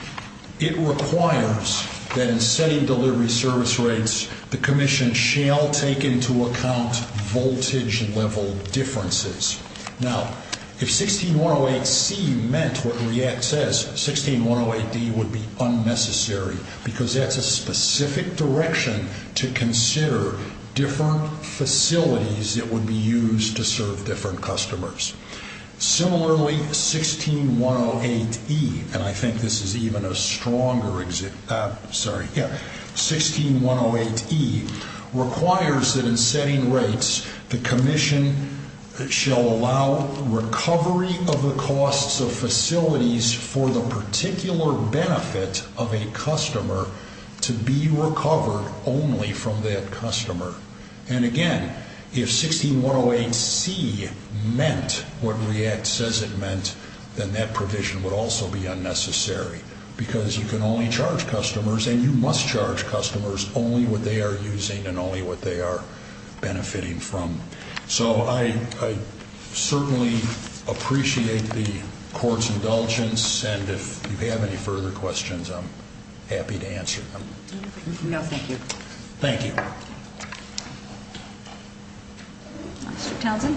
it requires that in setting delivery service rates, the Commission shall take into account voltage-level differences. Now, if 16108C meant what REACT says, 16108D would be unnecessary, because that's a specific direction to consider different facilities that would be used to serve different customers. Similarly, 16108E requires that in setting rates, the Commission shall allow recovery of the costs of facilities for the particular benefit of a customer to be recovered only from that customer. And again, if 16108C meant what REACT says it meant, then that provision would also be unnecessary, because you can only charge customers, and you must charge customers, only what they are using and only what they are benefiting from. So I certainly appreciate the Court's indulgence, and if you have any further questions, I'm happy to answer them. No, thank you. Thank you. Mr. Townsend?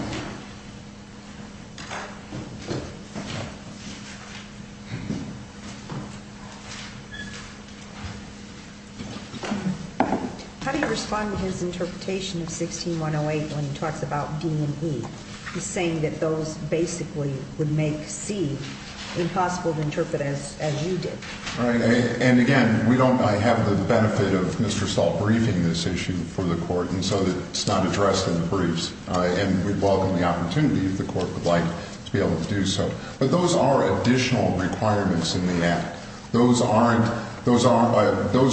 How do you respond to his interpretation of 16108 when he talks about D and E? He's saying that those basically would make C impossible to interpret as you did. All right. And again, we don't have the benefit of Mr. Stahl briefing this issue for the Court, and so it's not addressed in the briefs. And we'd welcome the opportunity, if the Court would like to be able to do so. But those are additional requirements in the Act. Those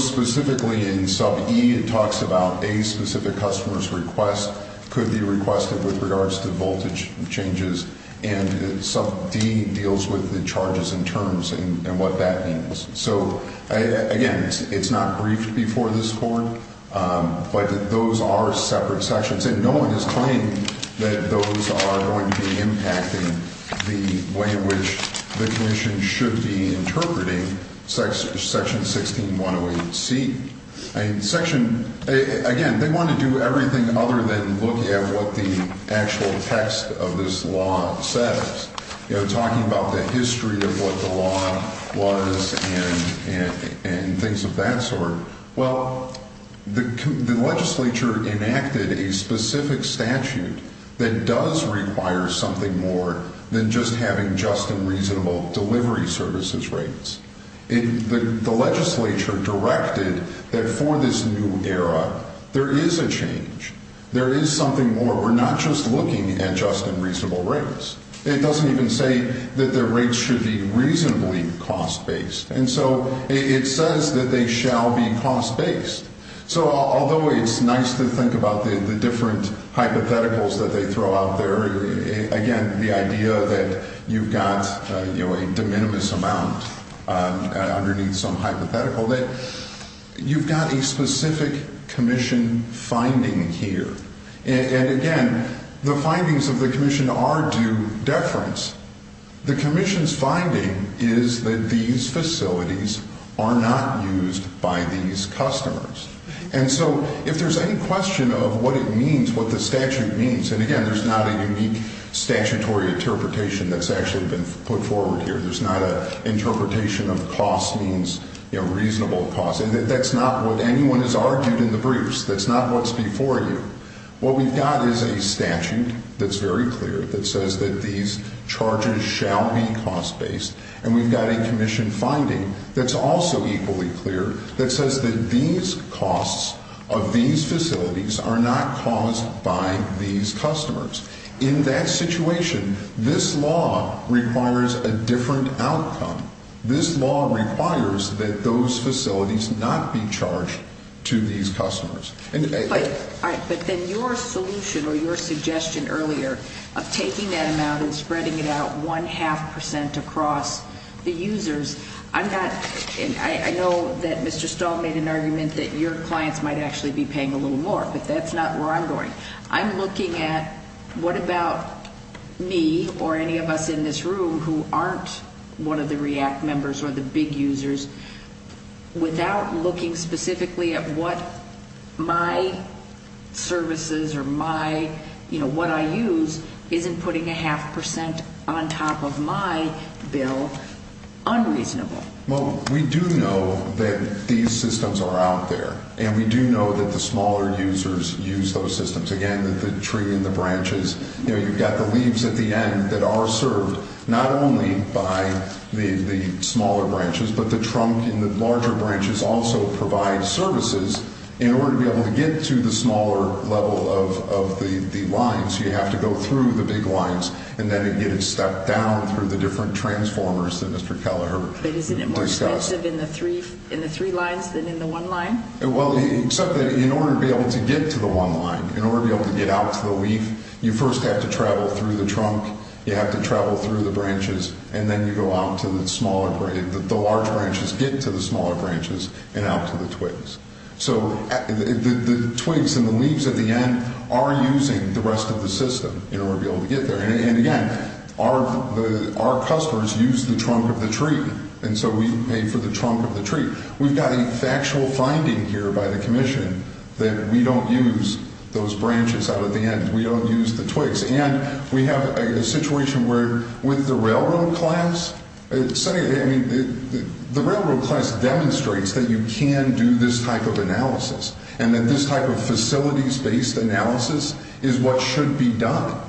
specifically in sub E, it talks about a specific customer's request could be requested with regards to voltage changes, and sub D deals with the charges and terms and what that means. So, again, it's not briefed before this Court, but those are separate sections, and no one is claiming that those are going to be impacting the way in which the Commission should be interpreting Section 16108C. Section, again, they want to do everything other than looking at what the actual text of this law says, you know, talking about the history of what the law was and things of that sort. Well, the legislature enacted a specific statute that does require something more than just having just and reasonable delivery services rates. The legislature directed that for this new era, there is a change. There is something more. We're not just looking at just and reasonable rates. It doesn't even say that the rates should be reasonably cost-based. And so it says that they shall be cost-based. So, although it's nice to think about the different hypotheticals that they throw out there, again, the idea that you've got, you know, a de minimis amount underneath some hypothetical, that you've got a specific Commission finding here. And, again, the findings of the Commission are due deference. The Commission's finding is that these facilities are not used by these customers. And so if there's any question of what it means, what the statute means, and, again, there's not a unique statutory interpretation that's actually been put forward here. There's not an interpretation of cost means, you know, reasonable cost. And that's not what anyone has argued in the briefs. That's not what's before you. What we've got is a statute that's very clear that says that these charges shall be cost-based. And we've got a Commission finding that's also equally clear that says that these costs of these facilities are not caused by these customers. In that situation, this law requires a different outcome. This law requires that those facilities not be charged to these customers. All right, but then your solution or your suggestion earlier of taking that amount and spreading it out one-half percent across the users, I'm not, and I know that Mr. Stahl made an argument that your clients might actually be paying a little more, but that's not where I'm going. I'm looking at what about me or any of us in this room who aren't one of the REACT members or the big users, without looking specifically at what my services or my, you know, what I use isn't putting a half percent on top of my bill unreasonable. Well, we do know that these systems are out there, and we do know that the smaller users use those systems. Again, the tree and the branches, you know, you've got the leaves at the end that are served not only by the smaller branches, but the trunk and the larger branches also provide services in order to be able to get to the smaller level of the lines. You have to go through the big lines, and then it gets stepped down through the different transformers that Mr. Kelleher discussed. But isn't it more expensive in the three lines than in the one line? Well, except that in order to be able to get to the one line, in order to be able to get out to the leaf, you first have to travel through the trunk. You have to travel through the branches, and then you go out to the smaller branches. The large branches get to the smaller branches and out to the twigs. So the twigs and the leaves at the end are using the rest of the system in order to be able to get there. And again, our customers use the trunk of the tree, and so we pay for the trunk of the tree. We've got a factual finding here by the commission that we don't use those branches out at the end. We don't use the twigs. And we have a situation where with the railroad class, the railroad class demonstrates that you can do this type of analysis and that this type of facilities-based analysis is what should be done.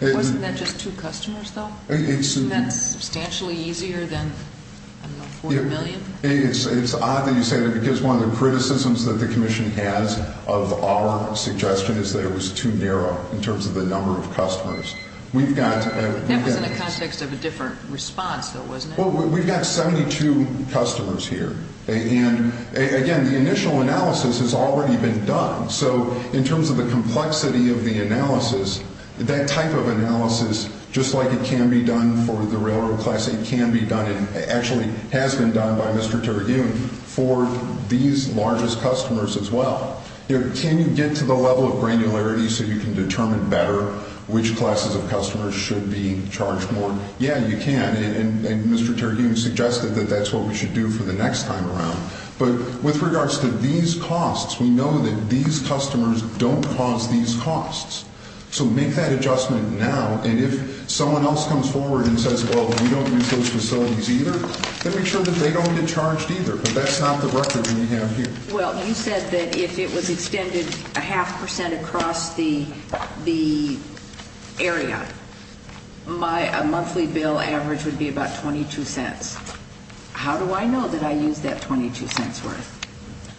Wasn't that just two customers, though? Isn't that substantially easier than, I don't know, 4 million? It's odd that you say that because one of the criticisms that the commission has of our suggestion is that it was too narrow in terms of the number of customers. That was in the context of a different response, though, wasn't it? Well, we've got 72 customers here. And again, the initial analysis has already been done. So in terms of the complexity of the analysis, that type of analysis, just like it can be done for the railroad class, it can be done. It actually has been done by Mr. Terhune for these largest customers as well. Can you get to the level of granularity so you can determine better which classes of customers should be charged more? Yeah, you can. And Mr. Terhune suggested that that's what we should do for the next time around. But with regards to these costs, we know that these customers don't cause these costs. So make that adjustment now. And if someone else comes forward and says, well, we don't use those facilities either, then make sure that they don't get charged either. But that's not the record that we have here. Well, you said that if it was extended a half percent across the area, my monthly bill average would be about $0.22. How do I know that I used that $0.22 worth?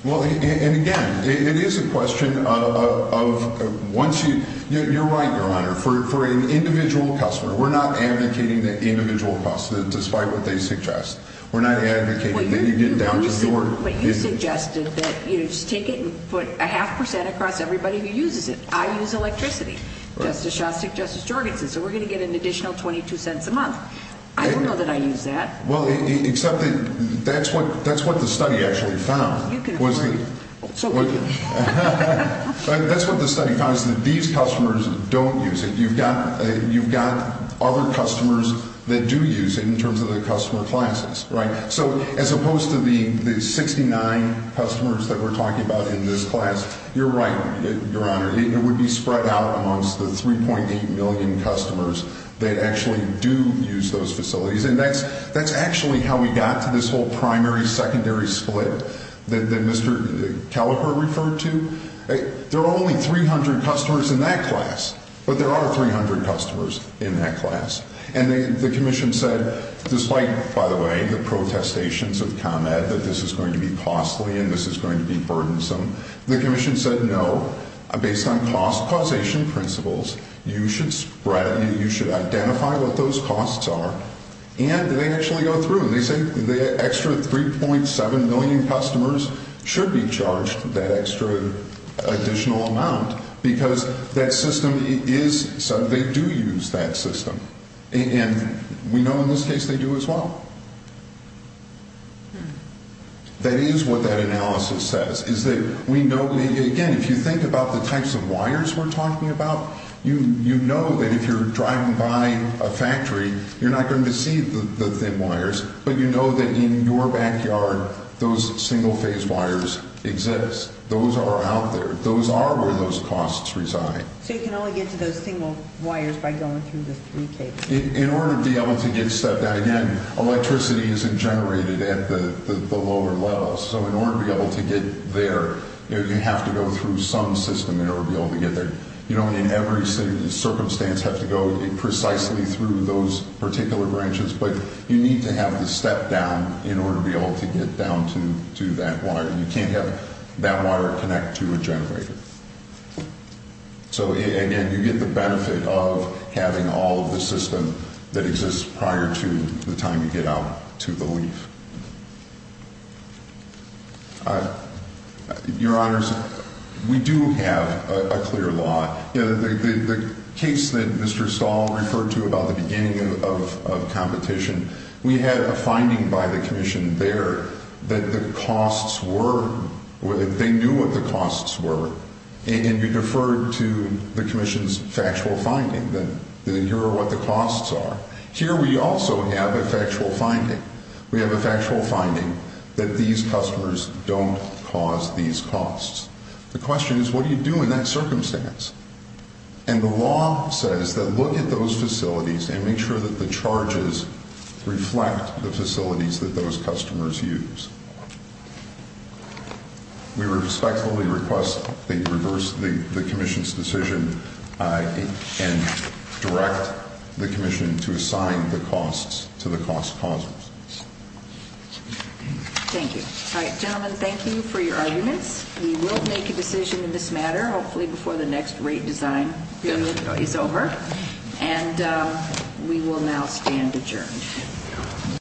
Well, and again, it is a question of once you – you're right, Your Honor. For an individual customer, we're not advocating the individual cost, despite what they suggest. We're not advocating that you get down to the order. But you suggested that you just take it and put a half percent across everybody who uses it. I use electricity. Justice Shostak, Justice Jorgensen. So we're going to get an additional $0.22 a month. I don't know that I use that. Well, except that that's what the study actually found. You can have mine. That's what the study found, is that these customers don't use it. You've got other customers that do use it in terms of the customer classes, right? So as opposed to the 69 customers that we're talking about in this class, you're right, Your Honor. It would be spread out amongst the 3.8 million customers that actually do use those facilities. And that's actually how we got to this whole primary-secondary split that Mr. Kelleher referred to. There are only 300 customers in that class. But there are 300 customers in that class. And the commission said, despite, by the way, the protestations of ComEd, that this is going to be costly and this is going to be burdensome, the commission said, no, based on cost causation principles, you should identify what those costs are, and they actually go through and they say the extra 3.7 million customers should be charged that extra additional amount because that system is, they do use that system. And we know in this case they do as well. That is what that analysis says, is that we know, again, if you think about the types of wires we're talking about, you know that if you're driving by a factory, you're not going to see the thin wires, but you know that in your backyard those single-phase wires exist. Those are out there. Those are where those costs reside. So you can only get to those single wires by going through the 3K. In order to be able to get stuff done. Again, electricity isn't generated at the lower levels. So in order to be able to get there, you have to go through some system in order to be able to get there. You don't in every circumstance have to go precisely through those particular branches, but you need to have the step down in order to be able to get down to that wire. You can't have that wire connect to a generator. So, again, you get the benefit of having all of the system that exists prior to the time you get out to the leaf. Your Honors, we do have a clear law. The case that Mr. Stahl referred to about the beginning of competition, we had a finding by the commission there that the costs were, they knew what the costs were, and you deferred to the commission's factual finding that here are what the costs are. Here we also have a factual finding. We have a factual finding that these customers don't cause these costs. The question is, what do you do in that circumstance? And the law says that look at those facilities and make sure that the charges reflect the facilities that those customers use. We respectfully request that you reverse the commission's decision and direct the commission to assign the costs to the cost causes. Thank you. All right, gentlemen, thank you for your arguments. We will make a decision in this matter, hopefully before the next rate design is over. And we will now stand adjourned.